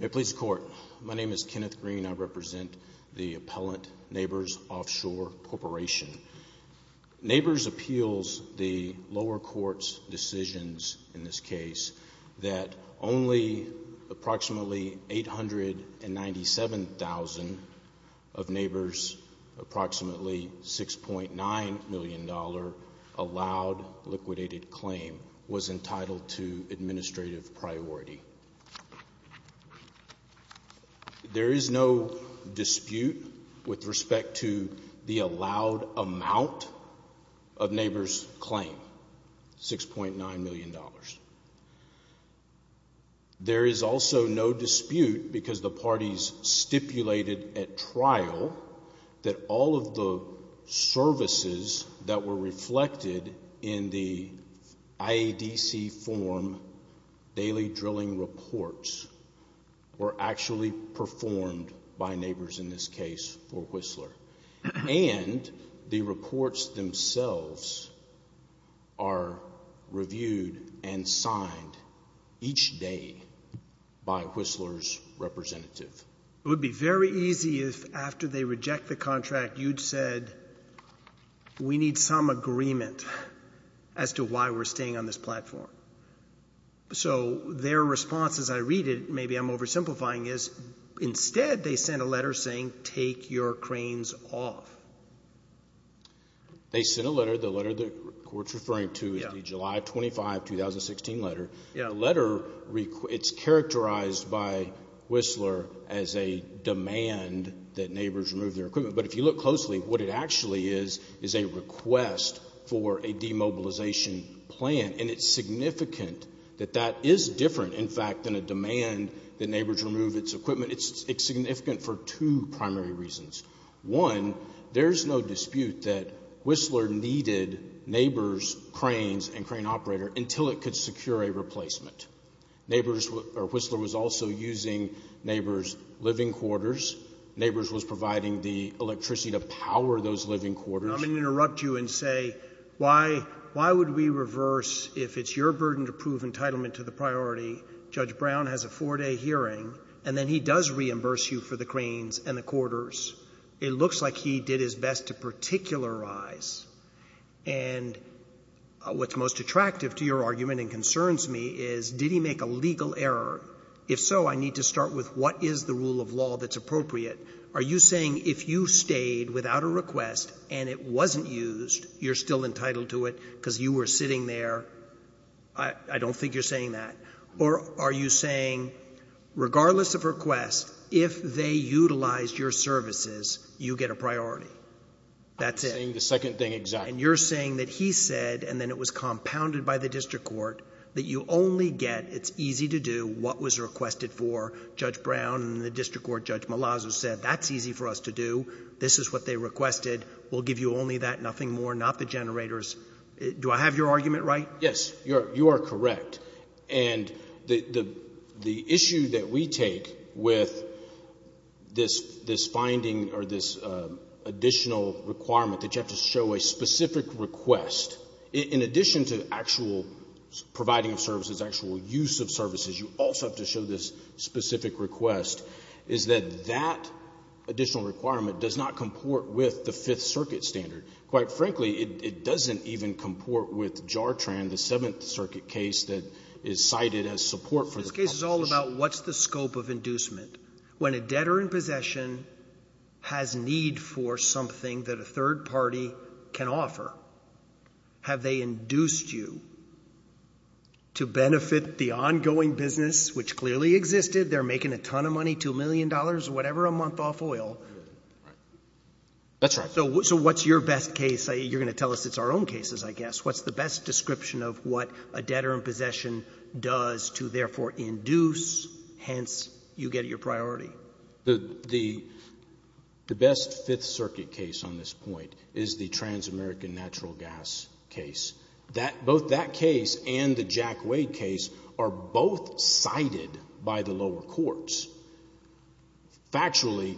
May it please the Court. My name is Kenneth Green. I represent the appellant Neighbors Offshore Corporation. Neighbors appeals the lower court's decisions, in this case, that only approximately 897,000 of Neighbors approximately $6.9 million allowed liquidated claim was entitled to administrative priority. There is no dispute with respect to the allowed amount of Neighbors claim, $6.9 million. There is also no dispute because the parties stipulated at trial that all of the services that were reflected in the IADC form daily drilling reports were actually performed by Neighbors, in this case, for Whistler. And the reports themselves are reviewed and signed each day by Whistler's representative. It would be very easy if after they reject the contract you'd said we need some agreement as to why we're staying on this platform. So their response as I read it, maybe I'm oversimplifying, is instead they sent a letter saying take your cranes off. They sent a letter, the letter the Court's referring to is the July 25, 2016 letter. The letter, it's characterized by Whistler as a demand that Neighbors remove their equipment. But if you look closely, what it actually is is a request for a demobilization plan. And it's significant that that is different, in fact, than a demand that Neighbors remove its equipment. It's significant for two primary reasons. One, there's no dispute that Whistler needed Neighbors' cranes and crane operator until it could secure a replacement. Neighbors or Whistler was also using Neighbors' living quarters. Neighbors was providing the electricity to power those living quarters. I'm going to interrupt you and say, why would we reverse if it's your burden to prove entitlement to the priority? Judge Brown has a four-day hearing, and then he does reimburse you for the cranes and the quarters. It looks like he did his best to particularize. And what's most attractive to your argument and concerns me is did he make a legal error? If so, I need to start with what is the rule of law that's appropriate? Are you saying if you stayed without a request and it wasn't used, you're still entitled to it because you were sitting there? I don't think you're saying that. Or are you saying regardless of request, if they utilized your services, you get a priority? That's it. I'm saying the second thing exactly. And you're saying that he said, and then it was compounded by the district court, that you only get it's easy to do what was requested for. Judge Brown and the district court Judge Malazzo said that's easy for us to do. This is what they requested. We'll give you only that, nothing more, not the generators. Do I have your argument right? Yes, you are correct. And the issue that we take with this finding or this additional requirement that you have to show a specific request, in addition to actual providing of services, actual use of services, you also have to show this specific request, is that that additional requirement does not comport with the Fifth Circuit standard. Quite frankly, it doesn't even comport with JARTRAN, the Seventh Circuit case that is cited as support for the public. This case is all about what's the scope of inducement. When a debtor in possession has need for something that a third party can offer, have they induced you to benefit the ongoing business, which clearly existed? They're making a ton of money, $2 million, whatever a month off oil. That's right. So what's your best case? You're going to tell us it's our own cases, I guess. What's the best description of what a debtor in possession does to therefore induce, hence you get your priority? The best Fifth Circuit case on this point is the trans-American natural gas case. Both that case and the Jack Wade case are both cited by the lower courts. Factually,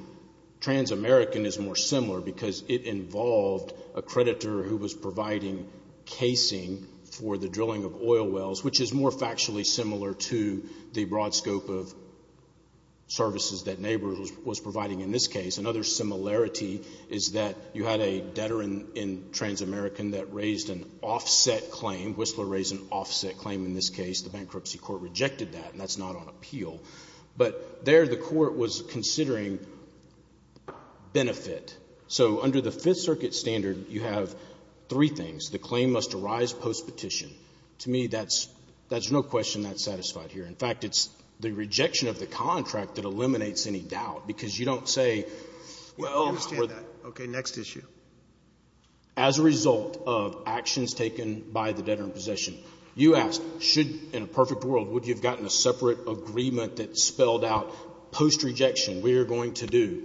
trans-American is more similar because it involved a creditor who was providing casing for the drilling of oil wells, which is more factually similar to the broad scope of services that neighbors was providing in this case. Another similarity is that you had a debtor in trans-American that raised an offset claim. Whistler raised an offset claim in this case. The bankruptcy court rejected that, and that's not on appeal. But there the court was considering benefit. So under the Fifth Circuit standard, you have three things. The claim must arise post-petition. To me, that's no question that's satisfied here. In fact, it's the rejection of the contract that eliminates any doubt because you don't say, well, or the next issue. As a result of actions taken by the debtor in possession, you asked, should, in a perfect world, would you have gotten a separate agreement that spelled out post-rejection, we are going to do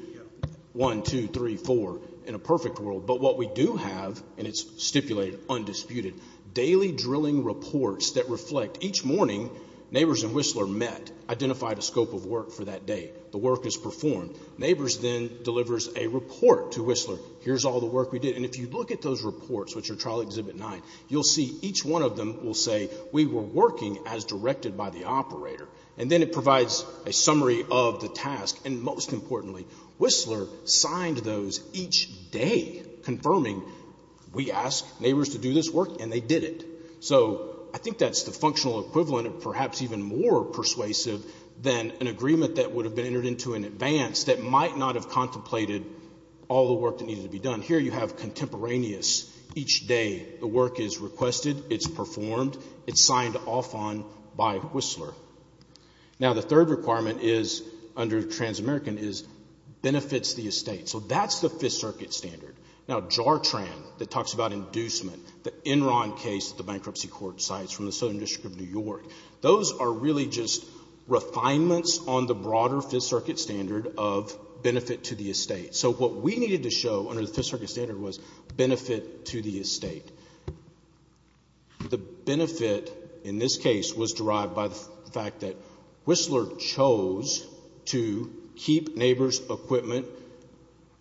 1, 2, 3, 4, in a perfect world. But what we do have, and it's stipulated, undisputed, daily drilling reports that reflect each morning neighbors and Whistler met, identified a scope of work for that day. The work is performed. Neighbors then delivers a report to Whistler. Here's all the work we did. And if you look at those reports, which are Trial Exhibit 9, you'll see each one of them will say we were working as directed by the operator. And then it provides a summary of the task. And most importantly, Whistler signed those each day confirming we asked neighbors to do this work and they did it. So I think that's the functional equivalent of perhaps even more persuasive than an agreement that would have been entered into in advance that might not have contemplated all the work that needed to be done. Here you have contemporaneous each day. The work is requested. It's performed. It's signed off on by Whistler. Now, the third requirement under Transamerican is benefits to the estate. So that's the Fifth Circuit standard. Now, JARTRAN that talks about inducement, the Enron case at the bankruptcy court sites from the Southern District of New York, those are really just refinements on the broader Fifth Circuit standard of benefit to the estate. So what we needed to show under the Fifth Circuit standard was benefit to the estate. The benefit in this case was derived by the fact that Whistler chose to keep neighbors' equipment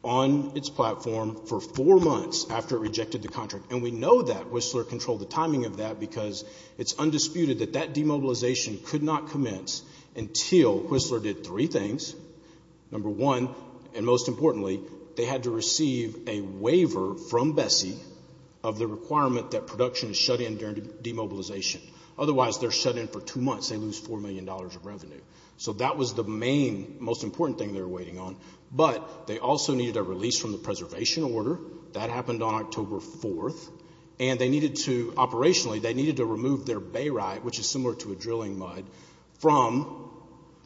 on its platform for four months after it rejected the contract. And we know that Whistler controlled the timing of that because it's undisputed that that demobilization could not commence until Whistler did three things. Number one, and most importantly, they had to receive a waiver from Bessie of the requirement that production is shut in during demobilization. Otherwise, they're shut in for two months. They lose $4 million of revenue. So that was the main, most important thing they were waiting on. But they also needed a release from the preservation order. That happened on October 4th. And they needed to, operationally, they needed to remove their bay right, which is similar to a drilling mud, from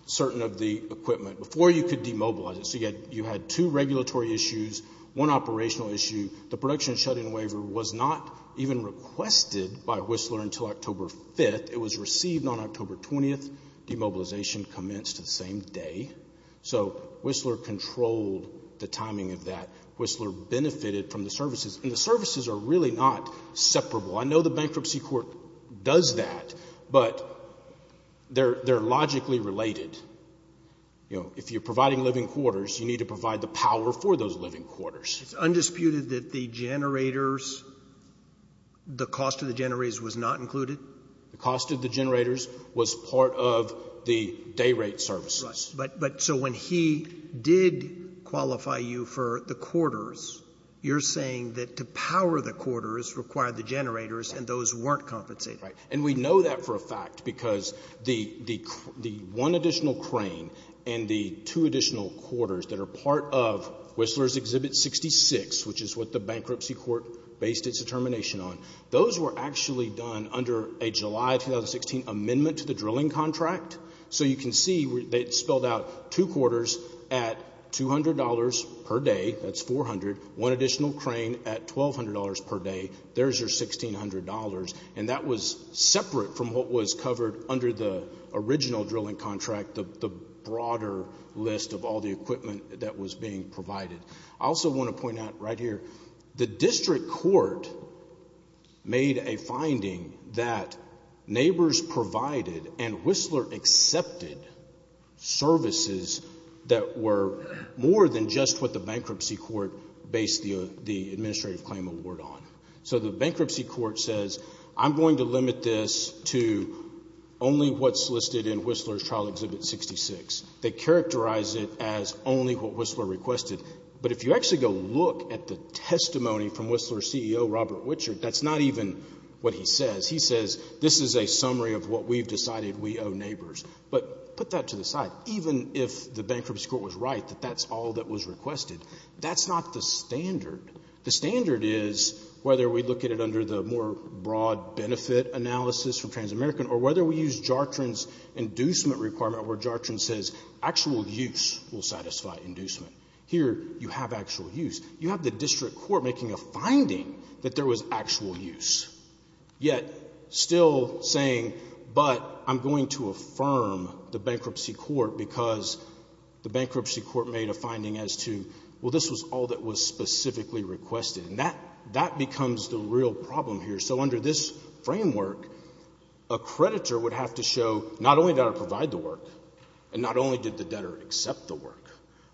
certain of the equipment before you could demobilize it. So you had two regulatory issues, one operational issue. The production shut-in waiver was not even requested by Whistler until October 5th. It was received on October 20th. Demobilization commenced the same day. So Whistler controlled the timing of that. Whistler benefited from the services. And the services are really not separable. I know the bankruptcy court does that, but they're logically related. If you're providing living quarters, you need to provide the power for those living quarters. It's undisputed that the generators, the cost of the generators was not included? The cost of the generators was part of the day rate services. Right. But so when he did qualify you for the quarters, you're saying that to power the quarters required the generators and those weren't compensated? Right. And we know that for a fact because the one additional crane and the two additional quarters that are part of Whistler's Exhibit 66, which is what the bankruptcy court based its determination on, those were actually done under a July 2016 amendment to the drilling contract. So you can see they spelled out two quarters at $200 per day. That's $400. One additional crane at $1,200 per day. There's your $1,600. And that was separate from what was covered under the original drilling contract, the broader list of all the equipment that was being provided. I also want to point out right here, the district court made a finding that neighbors provided and Whistler accepted services that were more than just what the bankruptcy court based the administrative claim award on. So the bankruptcy court says, I'm going to limit this to only what's listed in Whistler's Trial Exhibit 66. They characterize it as only what Whistler requested. But if you actually go look at the testimony from Whistler's CEO, Robert Wichert, that's not even what he says. He says this is a summary of what we've decided we owe neighbors. But put that to the side. Even if the bankruptcy court was right that that's all that was requested, that's not the standard. The standard is whether we look at it under the more broad benefit analysis from TransAmerican or whether we use Jartran's inducement requirement where Jartran says actual use will satisfy inducement. Here you have actual use. You have the district court making a finding that there was actual use, yet still saying, but I'm going to affirm the bankruptcy court because the bankruptcy court made a finding as to, well, this was all that was specifically requested. And that becomes the real problem here. So under this framework, a creditor would have to show not only did I provide the work and not only did the debtor accept the work,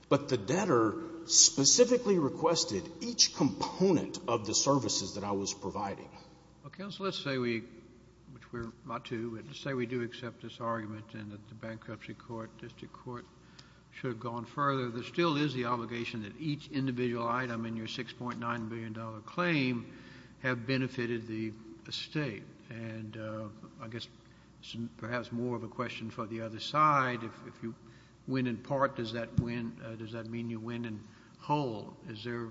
but the debtor specifically requested each component of the services that I was providing. Well, counsel, let's say we do accept this argument and that the bankruptcy court, district court should have gone further. There still is the obligation that each individual item in your $6.9 billion claim have benefited the State. And I guess perhaps more of a question for the other side. If you win in part, does that mean you win in whole? Is there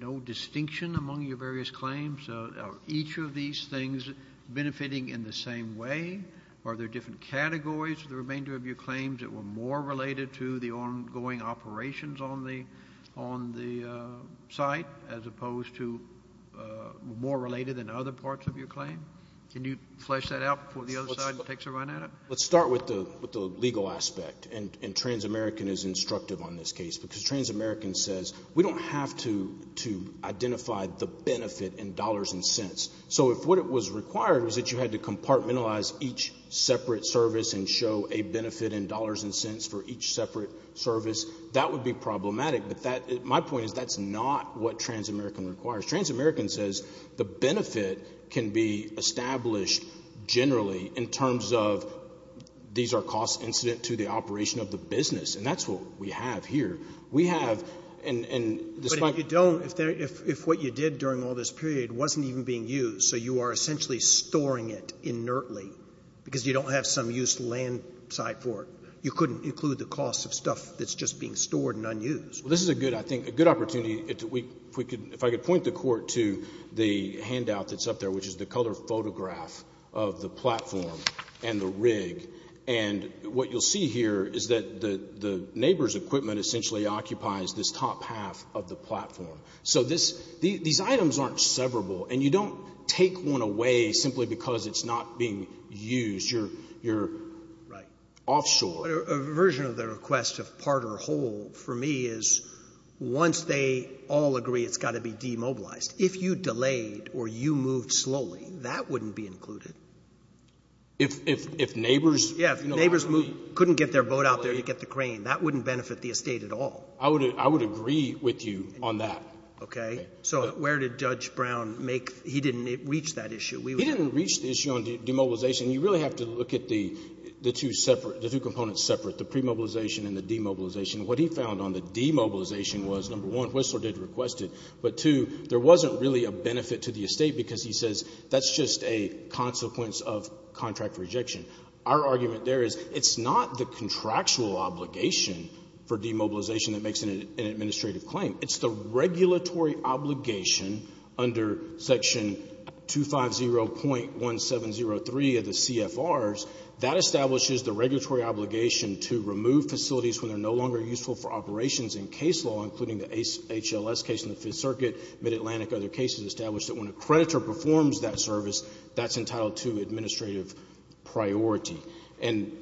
no distinction among your various claims? Are each of these things benefiting in the same way? Are there different categories of the remainder of your claims that were more related to the ongoing operations on the site as opposed to more related than other parts of your claim? Can you flesh that out before the other side takes a run at it? Let's start with the legal aspect, and TransAmerican is instructive on this case because TransAmerican says we don't have to identify the benefit in dollars and cents. So if what was required was that you had to compartmentalize each separate service and show a benefit in dollars and cents for each separate service, that would be problematic. But my point is that's not what TransAmerican requires. TransAmerican says the benefit can be established generally in terms of these are costs incident to the operation of the business, and that's what we have here. We have, and despite the ---- But if you don't, if what you did during all this period wasn't even being used, so you are essentially storing it inertly because you don't have some use land side for it, you couldn't include the cost of stuff that's just being stored and unused. Well, this is a good, I think, a good opportunity. If I could point the Court to the handout that's up there, which is the color photograph of the platform and the rig. And what you'll see here is that the neighbor's equipment essentially occupies this top half of the platform. So these items aren't severable, and you don't take one away simply because it's not being used. You're offshore. A version of the request of part or whole for me is once they all agree it's got to be demobilized, if you delayed or you moved slowly, that wouldn't be included. If neighbors ---- Yeah, if neighbors couldn't get their boat out there to get the crane, that wouldn't benefit the estate at all. I would agree with you on that. Okay. So where did Judge Brown make, he didn't reach that issue. He didn't reach the issue on demobilization. You really have to look at the two separate, the two components separate, the premobilization and the demobilization. What he found on the demobilization was, number one, Whistler did request it. But, two, there wasn't really a benefit to the estate because he says that's just a consequence of contract rejection. Our argument there is it's not the contractual obligation for demobilization that makes an administrative claim. It's the regulatory obligation under Section 250.1703 of the CFRs. That establishes the regulatory obligation to remove facilities when they're no longer useful for operations in case law, including the HLS case in the Fifth Circuit, Mid-Atlantic, other cases established that when a creditor performs that service, that's entitled to administrative priority. And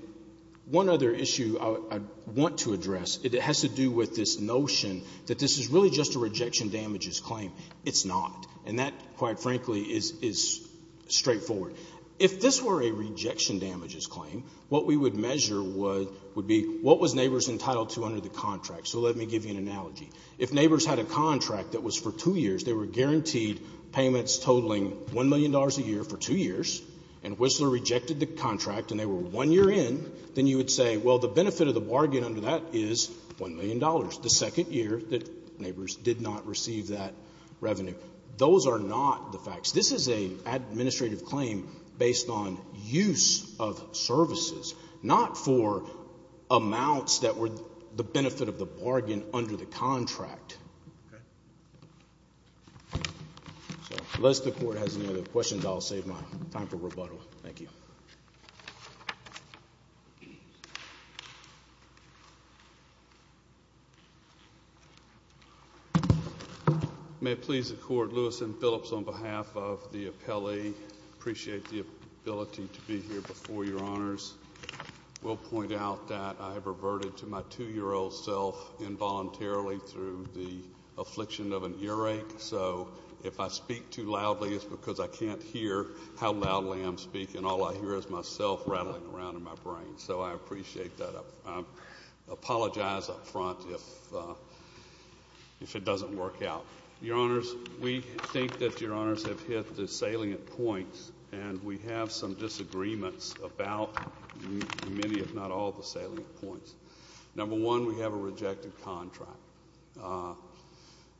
one other issue I want to address has to do with this notion that this is really just a rejection damages claim. It's not. And that, quite frankly, is straightforward. If this were a rejection damages claim, what we would measure would be what was neighbors entitled to under the contract. So let me give you an analogy. If neighbors had a contract that was for two years, they were guaranteed payments totaling $1 million a year for two years, and Whistler rejected the contract and they were one year in, then you would say, well, the benefit of the bargain under that is $1 million, the second year that neighbors did not receive that revenue. Those are not the facts. This is an administrative claim based on use of services, not for amounts that were the benefit of the bargain under the contract. Unless the Court has any other questions, I'll save my time for rebuttal. Thank you. May it please the Court, Lewis and Phillips, on behalf of the appellee, appreciate the ability to be here before Your Honors. We'll point out that I have reverted to my 2-year-old self involuntarily through the affliction of an earache. So if I speak too loudly, it's because I can't hear how loudly I'm speaking. All I hear is myself rattling around in my brain. So I appreciate that. I apologize up front if it doesn't work out. Your Honors, we think that Your Honors have hit the salient points, and we have some disagreements about many, if not all, the salient points. Number one, we have a rejected contract.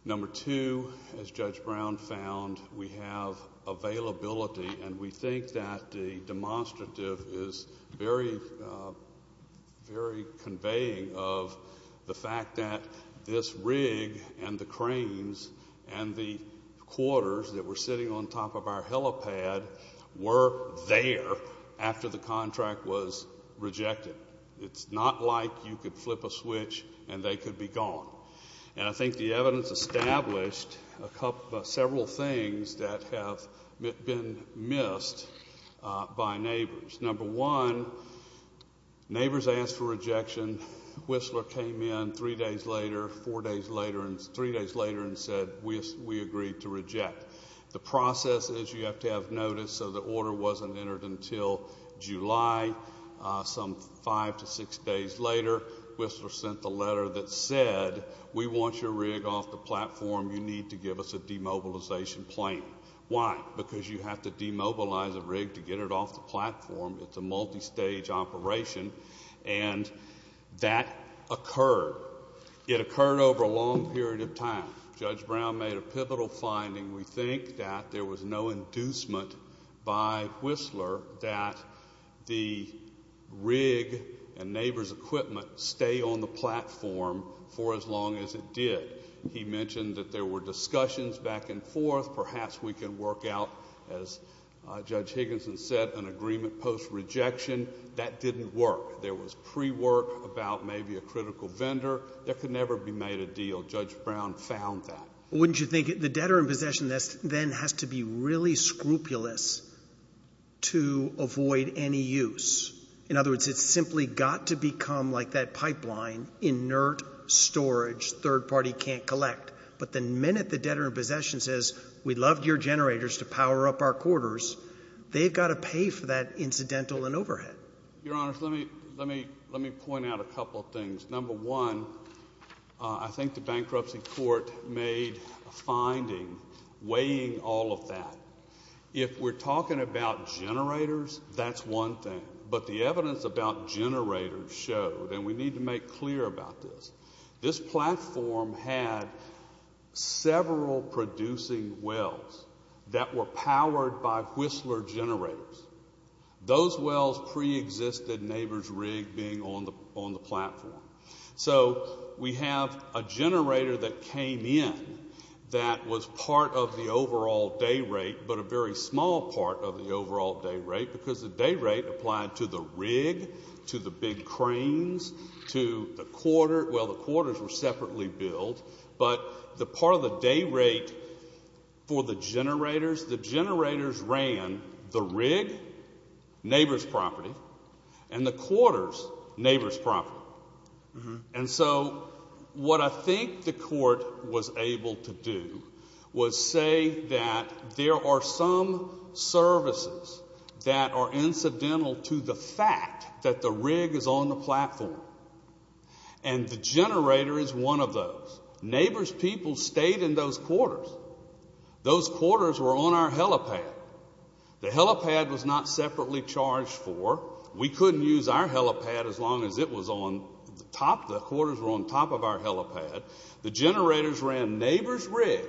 Number two, as Judge Brown found, we have availability, and we think that the demonstrative is very conveying of the fact that this rig and the cranes and the quarters that were sitting on top of our helipad were there after the contract was rejected. It's not like you could flip a switch and they could be gone. And I think the evidence established several things that have been missed by neighbors. Number one, neighbors asked for rejection. Whistler came in three days later and said, we agree to reject. The process is you have to have notice so the order wasn't entered until July. Some five to six days later, Whistler sent the letter that said, we want your rig off the platform. You need to give us a demobilization plan. Why? Because you have to demobilize a rig to get it off the platform. It's a multistage operation, and that occurred. It occurred over a long period of time. Judge Brown made a pivotal finding. We think that there was no inducement by Whistler that the rig and neighbor's equipment stay on the platform for as long as it did. He mentioned that there were discussions back and forth. Perhaps we can work out, as Judge Higginson said, an agreement post-rejection. That didn't work. There was pre-work about maybe a critical vendor. There could never be made a deal. Judge Brown found that. Wouldn't you think the debtor in possession then has to be really scrupulous to avoid any use? In other words, it's simply got to become like that pipeline, inert storage third party can't collect. But the minute the debtor in possession says, we'd love your generators to power up our quarters, they've got to pay for that incidental and overhead. Your Honor, let me point out a couple of things. Number one, I think the bankruptcy court made a finding weighing all of that. If we're talking about generators, that's one thing. But the evidence about generators showed, and we need to make clear about this, this platform had several producing wells that were powered by Whistler generators. Those wells preexisted Neighbors Rig being on the platform. So we have a generator that came in that was part of the overall day rate, but a very small part of the overall day rate because the day rate applied to the rig, to the big cranes, to the quarter. Well, the quarters were separately built. But the part of the day rate for the generators, the generators ran the rig, neighbors' property, and the quarters, neighbors' property. And so what I think the court was able to do was say that there are some services that are incidental to the fact that the rig is on the platform. And the generator is one of those. Neighbors' people stayed in those quarters. Those quarters were on our helipad. The helipad was not separately charged for. We couldn't use our helipad as long as it was on the top. The quarters were on top of our helipad. The generators ran Neighbors Rig,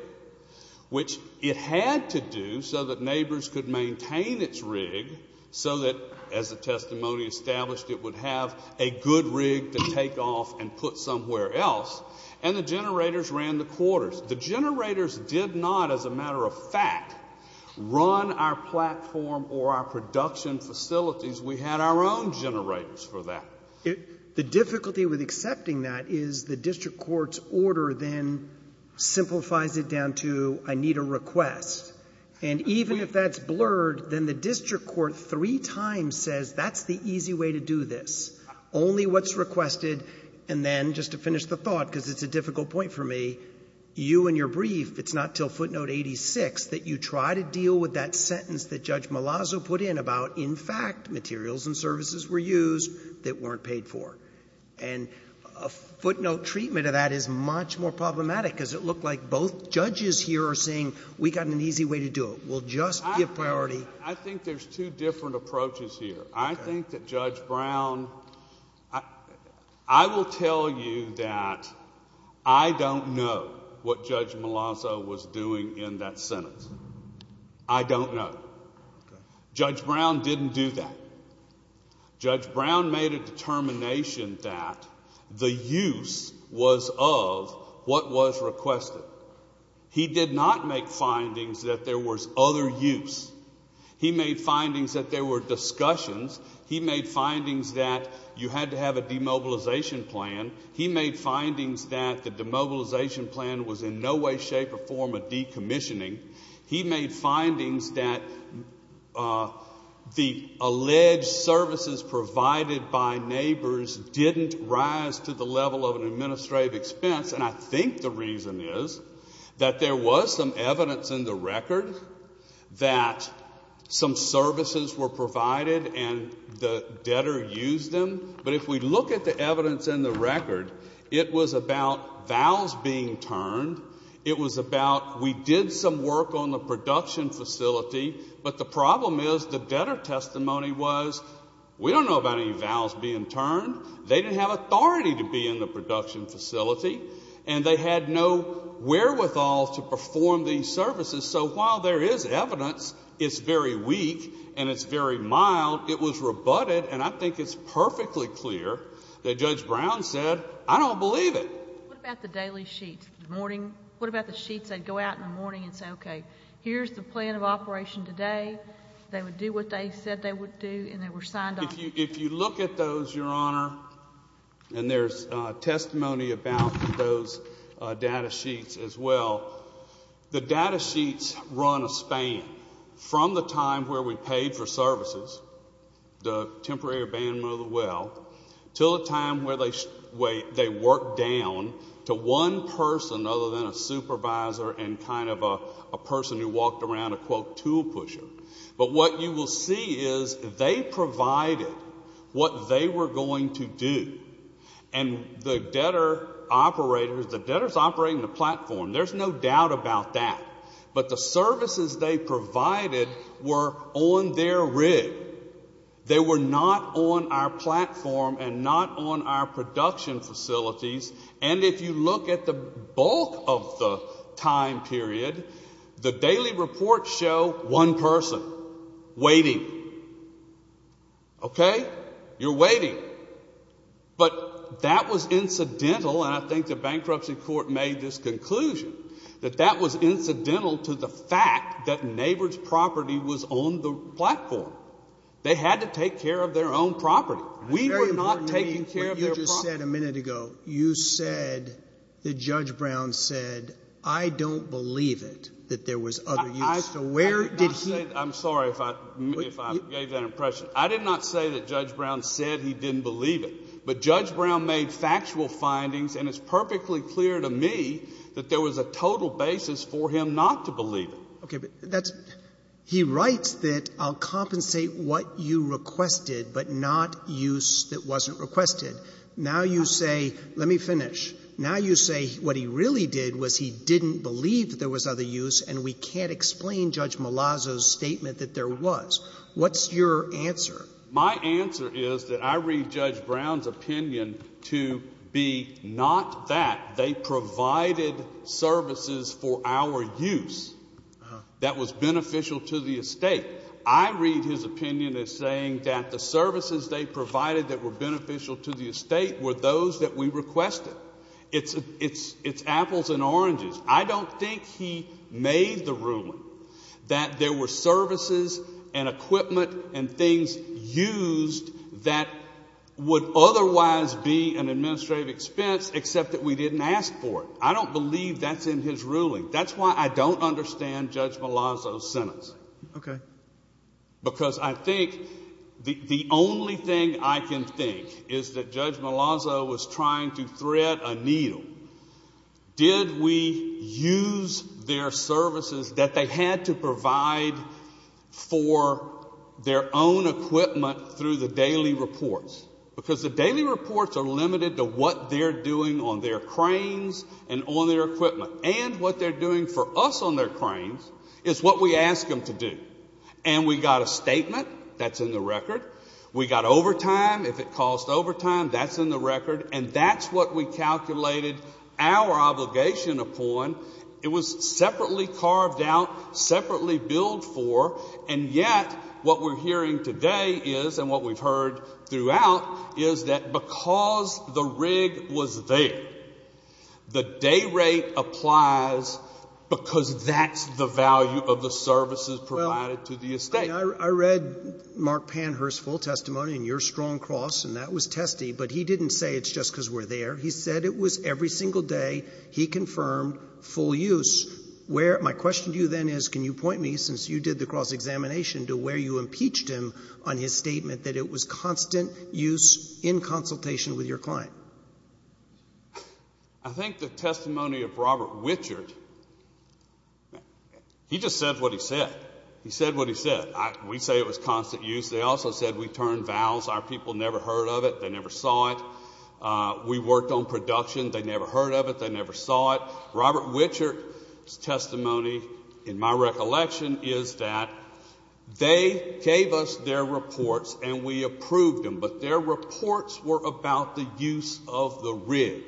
which it had to do so that neighbors could maintain its rig so that, as the testimony established, it would have a good rig to take off and put somewhere else. And the generators ran the quarters. The generators did not, as a matter of fact, run our platform or our production facilities. We had our own generators for that. The difficulty with accepting that is the district court's order then simplifies it down to I need a request. And even if that's blurred, then the district court three times says that's the easy way to do this. Only what's requested, and then, just to finish the thought, because it's a difficult point for me, you and your brief, it's not until footnote 86 that you try to deal with that sentence that Judge Malazzo put in about, in fact, materials and services were used that weren't paid for. And a footnote treatment of that is much more problematic because it looked like both judges here are saying we've got an easy way to do it. We'll just give priority. I think there's two different approaches here. I think that Judge Brown, I will tell you that I don't know what Judge Malazzo was doing in that sentence. I don't know. Judge Brown didn't do that. Judge Brown made a determination that the use was of what was requested. He did not make findings that there was other use. He made findings that there were discussions. He made findings that you had to have a demobilization plan. He made findings that the demobilization plan was in no way, shape, or form of decommissioning. He made findings that the alleged services provided by neighbors didn't rise to the level of an administrative expense. And I think the reason is that there was some evidence in the record that some services were provided and the debtor used them. But if we look at the evidence in the record, it was about vows being turned. It was about we did some work on the production facility, but the problem is the debtor testimony was we don't know about any vows being turned. They didn't have authority to be in the production facility, and they had no wherewithal to perform these services. So while there is evidence, it's very weak and it's very mild. It was rebutted, and I think it's perfectly clear that Judge Brown said, I don't believe it. What about the daily sheets in the morning? What about the sheets they'd go out in the morning and say, okay, here's the plan of operation today. They would do what they said they would do, and they were signed on. If you look at those, Your Honor, and there's testimony about those data sheets as well, the data sheets run a span from the time where we paid for services, the temporary abandonment of the well, to the time where they worked down to one person other than a supervisor and kind of a person who walked around a, quote, tool pusher. But what you will see is they provided what they were going to do. And the debtor operators, the debtors operating the platform, there's no doubt about that, but the services they provided were on their rig. They were not on our platform and not on our production facilities, and if you look at the bulk of the time period, the daily reports show one person waiting. Okay? You're waiting. But that was incidental, and I think the bankruptcy court made this conclusion, that that was incidental to the fact that neighbors' property was on the platform. They had to take care of their own property. We were not taking care of their property. You just said a minute ago, you said that Judge Brown said, I don't believe it, that there was other use. So where did he — I did not say that. I'm sorry if I gave that impression. I did not say that Judge Brown said he didn't believe it. But Judge Brown made factual findings, and it's perfectly clear to me that there was a total basis for him not to believe it. Okay, but that's — he writes that I'll compensate what you requested, but not use that wasn't requested. Now you say — let me finish. Now you say what he really did was he didn't believe there was other use, and we can't explain Judge Malazzo's statement that there was. What's your answer? My answer is that I read Judge Brown's opinion to be not that. They provided services for our use that was beneficial to the estate. I read his opinion as saying that the services they provided that were beneficial to the estate were those that we requested. It's apples and oranges. I don't think he made the ruling that there were services and equipment and things used that would otherwise be an administrative expense, except that we didn't ask for it. I don't believe that's in his ruling. That's why I don't understand Judge Malazzo's sentence. Okay. Because I think the only thing I can think is that Judge Malazzo was trying to thread a needle. Did we use their services that they had to provide for their own equipment through the daily reports? Because the daily reports are limited to what they're doing on their cranes and on their equipment. And what they're doing for us on their cranes is what we ask them to do. And we got a statement. That's in the record. We got overtime. If it caused overtime, that's in the record. And that's what we calculated our obligation upon. It was separately carved out, separately billed for. And yet what we're hearing today is, and what we've heard throughout, is that because the rig was there, the day rate applies because that's the value of the services provided to the estate. Well, I read Mark Panhurst's full testimony in your strong cross, and that was testy, but he didn't say it's just because we're there. He said it was every single day he confirmed full use. My question to you then is, can you point me, since you did the cross-examination, to where you impeached him on his statement that it was constant use in consultation with your client? I think the testimony of Robert Wichert, he just said what he said. He said what he said. We say it was constant use. They also said we turned vowels. Our people never heard of it. They never saw it. We worked on production. They never heard of it. They never saw it. Robert Wichert's testimony, in my recollection, is that they gave us their reports and we approved them, but their reports were about the use of the rig.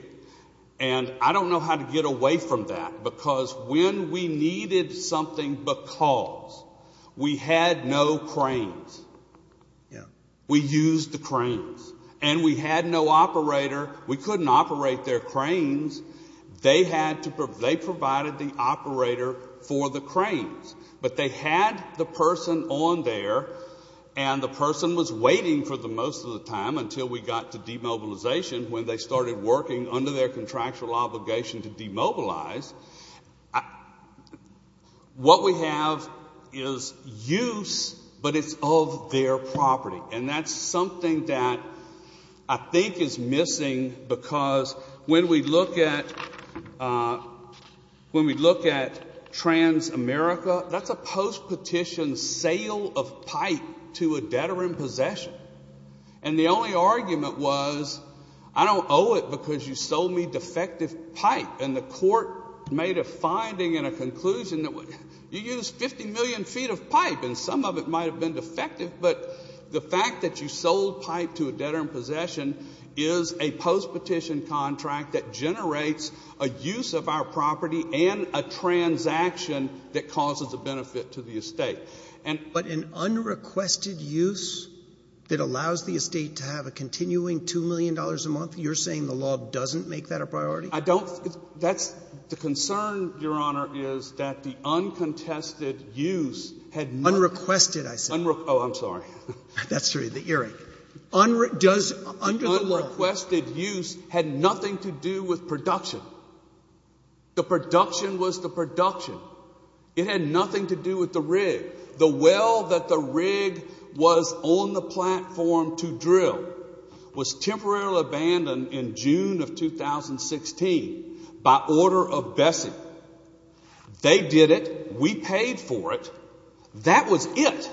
And I don't know how to get away from that, because when we needed something because we had no cranes, we used the cranes. And we had no operator. We couldn't operate their cranes. They provided the operator for the cranes. But they had the person on there, and the person was waiting for the most of the time until we got to demobilization when they started working under their contractual obligation to demobilize. What we have is use, but it's of their property. And that's something that I think is missing, because when we look at Transamerica, that's a post-petition sale of pipe to a debtor in possession. And the only argument was I don't owe it because you sold me defective pipe. And the court made a finding and a conclusion that you used 50 million feet of pipe, and some of it might have been defective. But the fact that you sold pipe to a debtor in possession is a post-petition contract that generates a use of our property and a transaction that causes a benefit to the estate. But an unrequested use that allows the estate to have a continuing $2 million a month, you're saying the law doesn't make that a priority? I don't — that's — the concern, Your Honor, is that the uncontested use had not — Unrequested, I said. Oh, I'm sorry. That's true. The earring. Does — under the law — The unrequested use had nothing to do with production. The production was the production. It had nothing to do with the rig. The well that the rig was on the platform to drill was temporarily abandoned in June of 2016 by order of Bessey. They did it. We paid for it. That was it.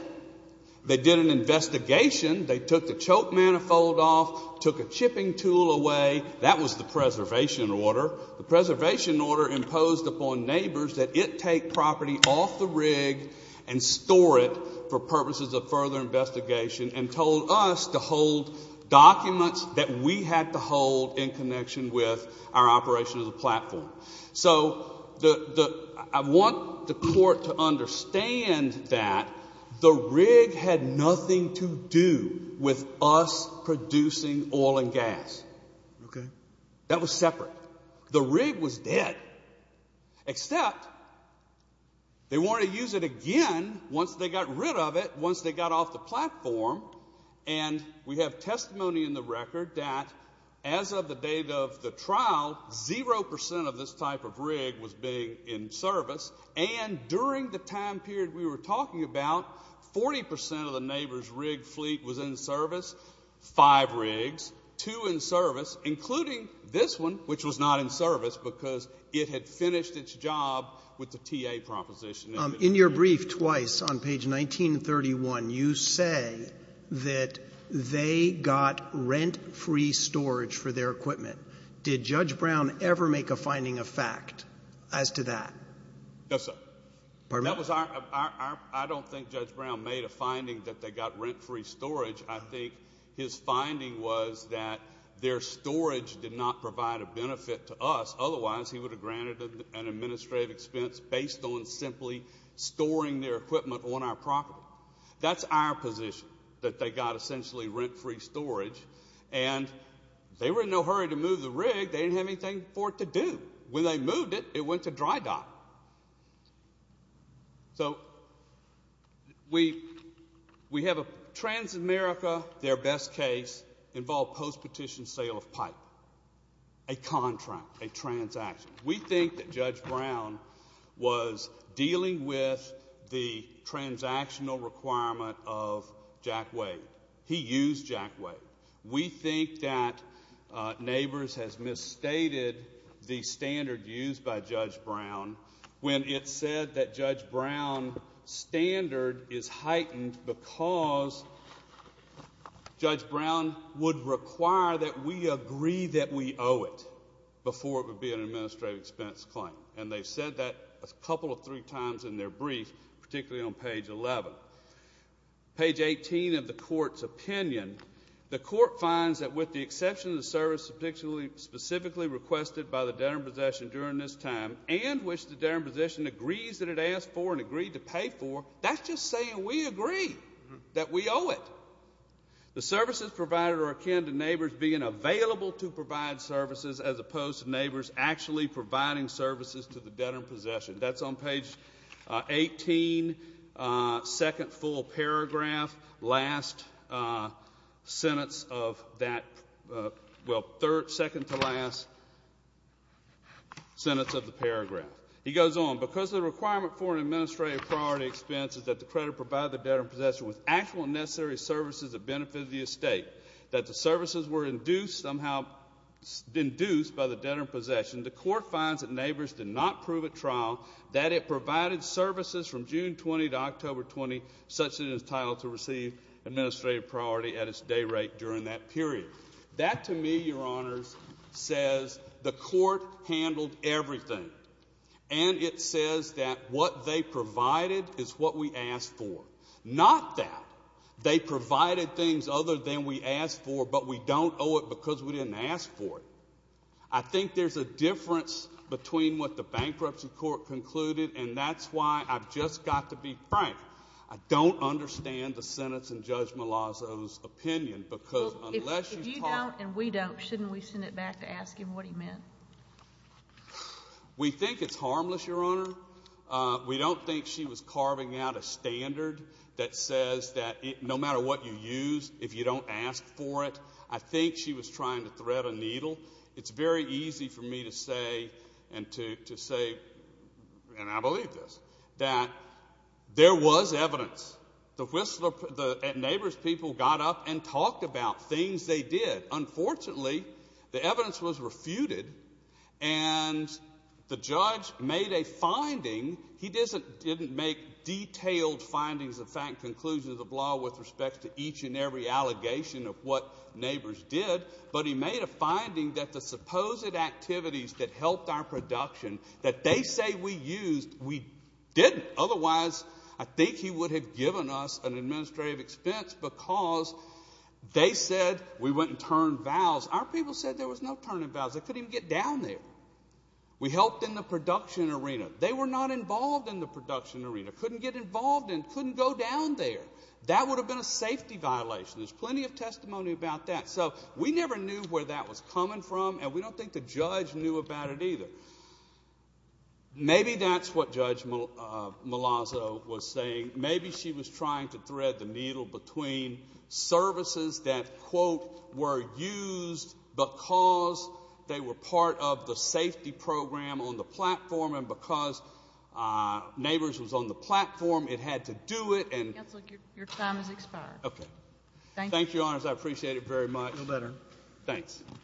They did an investigation. They took the choke manifold off, took a chipping tool away. That was the preservation order. The preservation order imposed upon neighbors that it take property off the rig and store it for purposes of further investigation, and told us to hold documents that we had to hold in connection with our operation of the platform. So the — I want the court to understand that the rig had nothing to do with us producing oil and gas. Okay. That was separate. The rig was dead, except they wanted to use it again once they got rid of it, once they got off the platform. And we have testimony in the record that as of the date of the trial, 0% of this type of rig was being in service. And during the time period we were talking about, 40% of the neighbor's rig fleet was in service, five rigs, two in service, including this one, which was not in service because it had finished its job with the TA proposition. In your brief, twice on page 1931, you say that they got rent-free storage for their equipment. Did Judge Brown ever make a finding of fact as to that? No, sir. Pardon me? That was our — I don't think Judge Brown made a finding that they got rent-free storage. I think his finding was that their storage did not provide a benefit to us. Otherwise, he would have granted an administrative expense based on simply storing their equipment on our property. That's our position, that they got essentially rent-free storage. And they were in no hurry to move the rig. They didn't have anything for it to do. When they moved it, it went to dry dock. So we have a — Transamerica, their best case, involved post-petition sale of pipe, a contract, a transaction. We think that Judge Brown was dealing with the transactional requirement of Jack Wade. He used Jack Wade. We think that Neighbors has misstated the standard used by Judge Brown when it said that Judge Brown's standard is heightened because Judge Brown would require that we agree that we owe it before it would be an administrative expense claim. And they said that a couple or three times in their brief, particularly on page 11. Page 18 of the Court's opinion, the Court finds that, with the exception of the service specifically requested by the debtor in possession during this time and which the debtor in possession agrees that it asked for and agreed to pay for, that's just saying we agree that we owe it. The services provided are akin to Neighbors being available to provide services as opposed to Neighbors actually providing services to the debtor in possession. That's on page 18, second full paragraph, last sentence of that, well, second to last sentence of the paragraph. He goes on. Because the requirement for an administrative priority expense is that the creditor provide the debtor in possession with actual and necessary services that benefit the estate, that the services were induced somehow by the debtor in possession, the Court finds that Neighbors did not prove at trial that it provided services from June 20 to October 20 such that it was entitled to receive administrative priority at its day rate during that period. That, to me, Your Honors, says the Court handled everything. And it says that what they provided is what we asked for. Not that they provided things other than we asked for but we don't owe it because we didn't ask for it. I think there's a difference between what the Bankruptcy Court concluded and that's why I've just got to be frank. I don't understand the sentence in Judge Malazzo's opinion because unless you talk. If you don't and we don't, shouldn't we send it back to ask him what he meant? We think it's harmless, Your Honor. We don't think she was carving out a standard that says that no matter what you use, if you don't ask for it, I think she was trying to thread a needle. It's very easy for me to say and to say, and I believe this, that there was evidence. The Neighbors people got up and talked about things they did. Unfortunately, the evidence was refuted and the judge made a finding. He didn't make detailed findings of fact, conclusions of law with respect to each and every allegation of what Neighbors did, but he made a finding that the supposed activities that helped our production that they say we used, we didn't. Otherwise, I think he would have given us an administrative expense because they said we went and turned vows. Our people said there was no turning vows. They couldn't even get down there. We helped in the production arena. They were not involved in the production arena, couldn't get involved and couldn't go down there. That would have been a safety violation. There's plenty of testimony about that. So we never knew where that was coming from, and we don't think the judge knew about it either. Maybe that's what Judge Malazzo was saying. Maybe she was trying to thread the needle between services that, quote, were used because they were part of the safety program on the platform and because Neighbors was on the platform, it had to do it. Counsel, your time has expired. Okay. Thank you, Your Honors. I appreciate it very much. No better. Thanks. Thank you.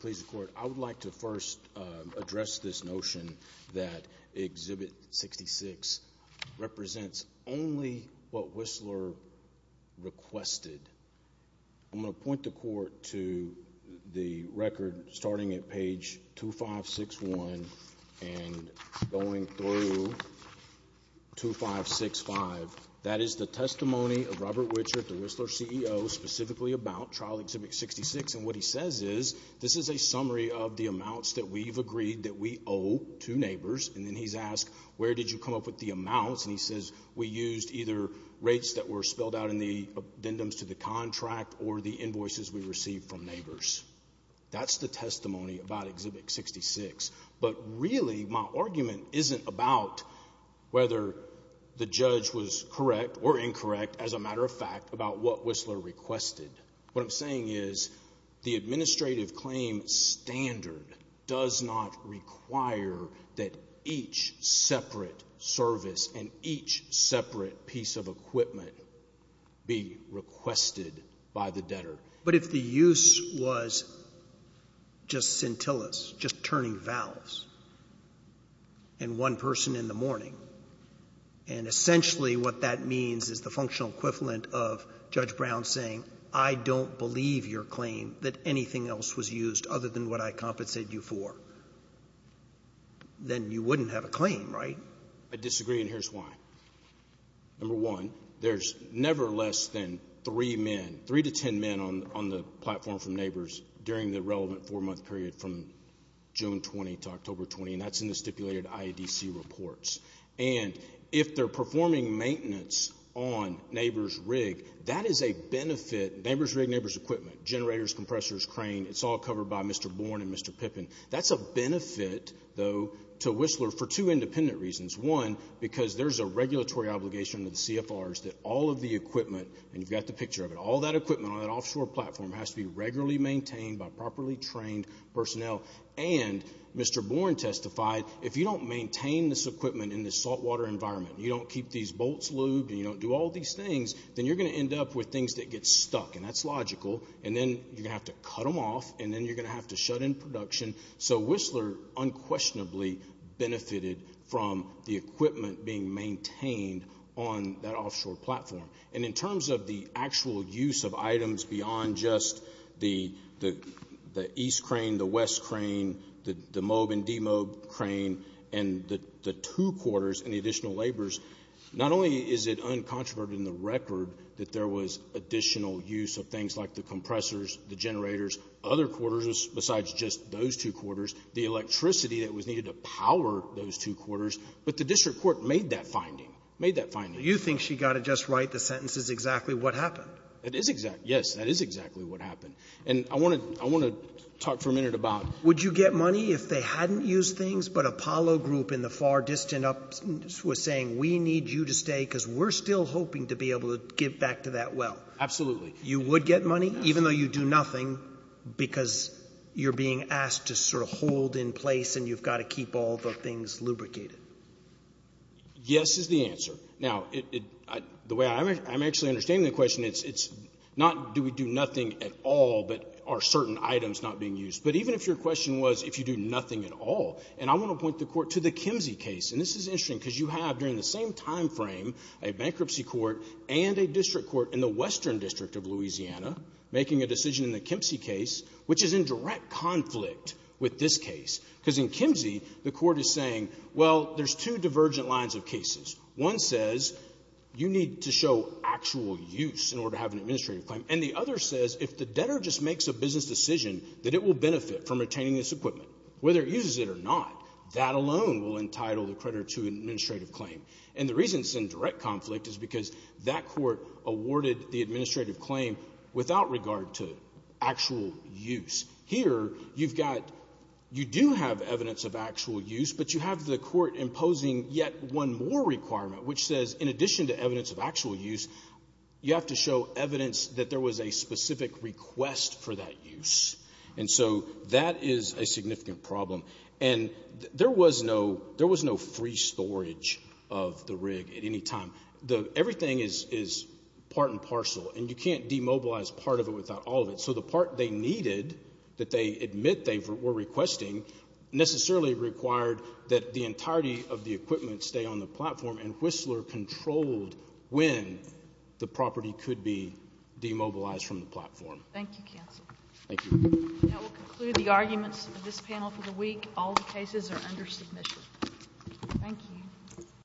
Please, the Court. I would like to first address this notion that Exhibit 66 represents only what Whistler requested. I'm going to point the Court to the record starting at page 2561 and going through 2565. That is the testimony of Robert Wichert, the Whistler CEO, specifically about Trial Exhibit 66. And what he says is, this is a summary of the amounts that we've agreed that we owe to Neighbors. And then he's asked, where did you come up with the amounts? And he says, we used either rates that were spelled out in the addendums to the contract or the invoices we received from Neighbors. That's the testimony about Exhibit 66. But really, my argument isn't about whether the judge was correct or incorrect, as a matter of fact, about what Whistler requested. What I'm saying is the administrative claim standard does not require that each separate service and each separate piece of equipment be requested by the debtor. But if the use was just scintillas, just turning valves in one person in the morning, and essentially what that means is the functional equivalent of Judge Brown saying, I don't believe your claim that anything else was used other than what I compensated you for, then you wouldn't have a claim, right? I disagree, and here's why. Number one, there's never less than three men, three to ten men on the platform from Neighbors during the relevant four-month period from June 20 to October 20, and that's in the stipulated IEDC reports. And if they're performing maintenance on Neighbors Rig, that is a benefit. Neighbors Rig, Neighbors Equipment, generators, compressors, crane, it's all covered by Mr. Bourne and Mr. Pippin. That's a benefit, though, to Whistler for two independent reasons. One, because there's a regulatory obligation to the CFRs that all of the equipment, and you've got the picture of it, all that equipment on that offshore platform has to be regularly maintained by properly trained personnel. And Mr. Bourne testified, if you don't maintain this equipment in this saltwater environment, you don't keep these bolts lubed and you don't do all these things, then you're going to end up with things that get stuck, and that's logical, and then you're going to have to cut them off, and then you're going to have to shut in production. So Whistler unquestionably benefited from the equipment being maintained on that offshore platform. And in terms of the actual use of items beyond just the East Crane, the West Crane, the MOAB and DMOAB crane, and the two quarters and the additional laborers, not only is it uncontroverted in the record that there was additional use of things like the compressors, the generators, other quarters besides just those two quarters, the electricity that was needed to power those two quarters, but the district court made that finding, made that finding. So you think she got it just right. The sentence is exactly what happened. It is exact. Yes, that is exactly what happened. And I want to talk for a minute about Would you get money if they hadn't used things, but Apollo Group in the far distant up was saying, we need you to stay because we're still hoping to be able to get back to that well. Absolutely. You would get money even though you do nothing because you're being asked to sort of hold in place and you've got to keep all the things lubricated. Yes is the answer. Now, the way I'm actually understanding the question, it's not do we do nothing at all, but are certain items not being used. But even if your question was if you do nothing at all, and I want to point the Court to the Kimsey case. And this is interesting because you have during the same time frame a bankruptcy court and a district court in the Western District of Louisiana making a decision in the Kimsey case, which is in direct conflict with this case. Because in Kimsey, the court is saying, well, there's two divergent lines of cases. One says you need to show actual use in order to have an administrative claim. And the other says if the debtor just makes a business decision that it will benefit from retaining this equipment, whether it uses it or not, that alone will entitle the creditor to an administrative claim. And the reason it's in direct conflict is because that court awarded the administrative claim without regard to actual use. Here you've got you do have evidence of actual use, but you have the court imposing yet one more requirement, which says in addition to evidence of actual use, you have to show evidence that there was a specific request for that use. And so that is a significant problem. And there was no free storage of the rig at any time. Everything is part and parcel. And you can't demobilize part of it without all of it. So the part they needed that they admit they were requesting necessarily required that the entirety of the equipment stay on the platform, and Whistler controlled when the property could be demobilized from the platform. Thank you, counsel. Thank you. That will conclude the arguments of this panel for the week. All the cases are under submission. Thank you.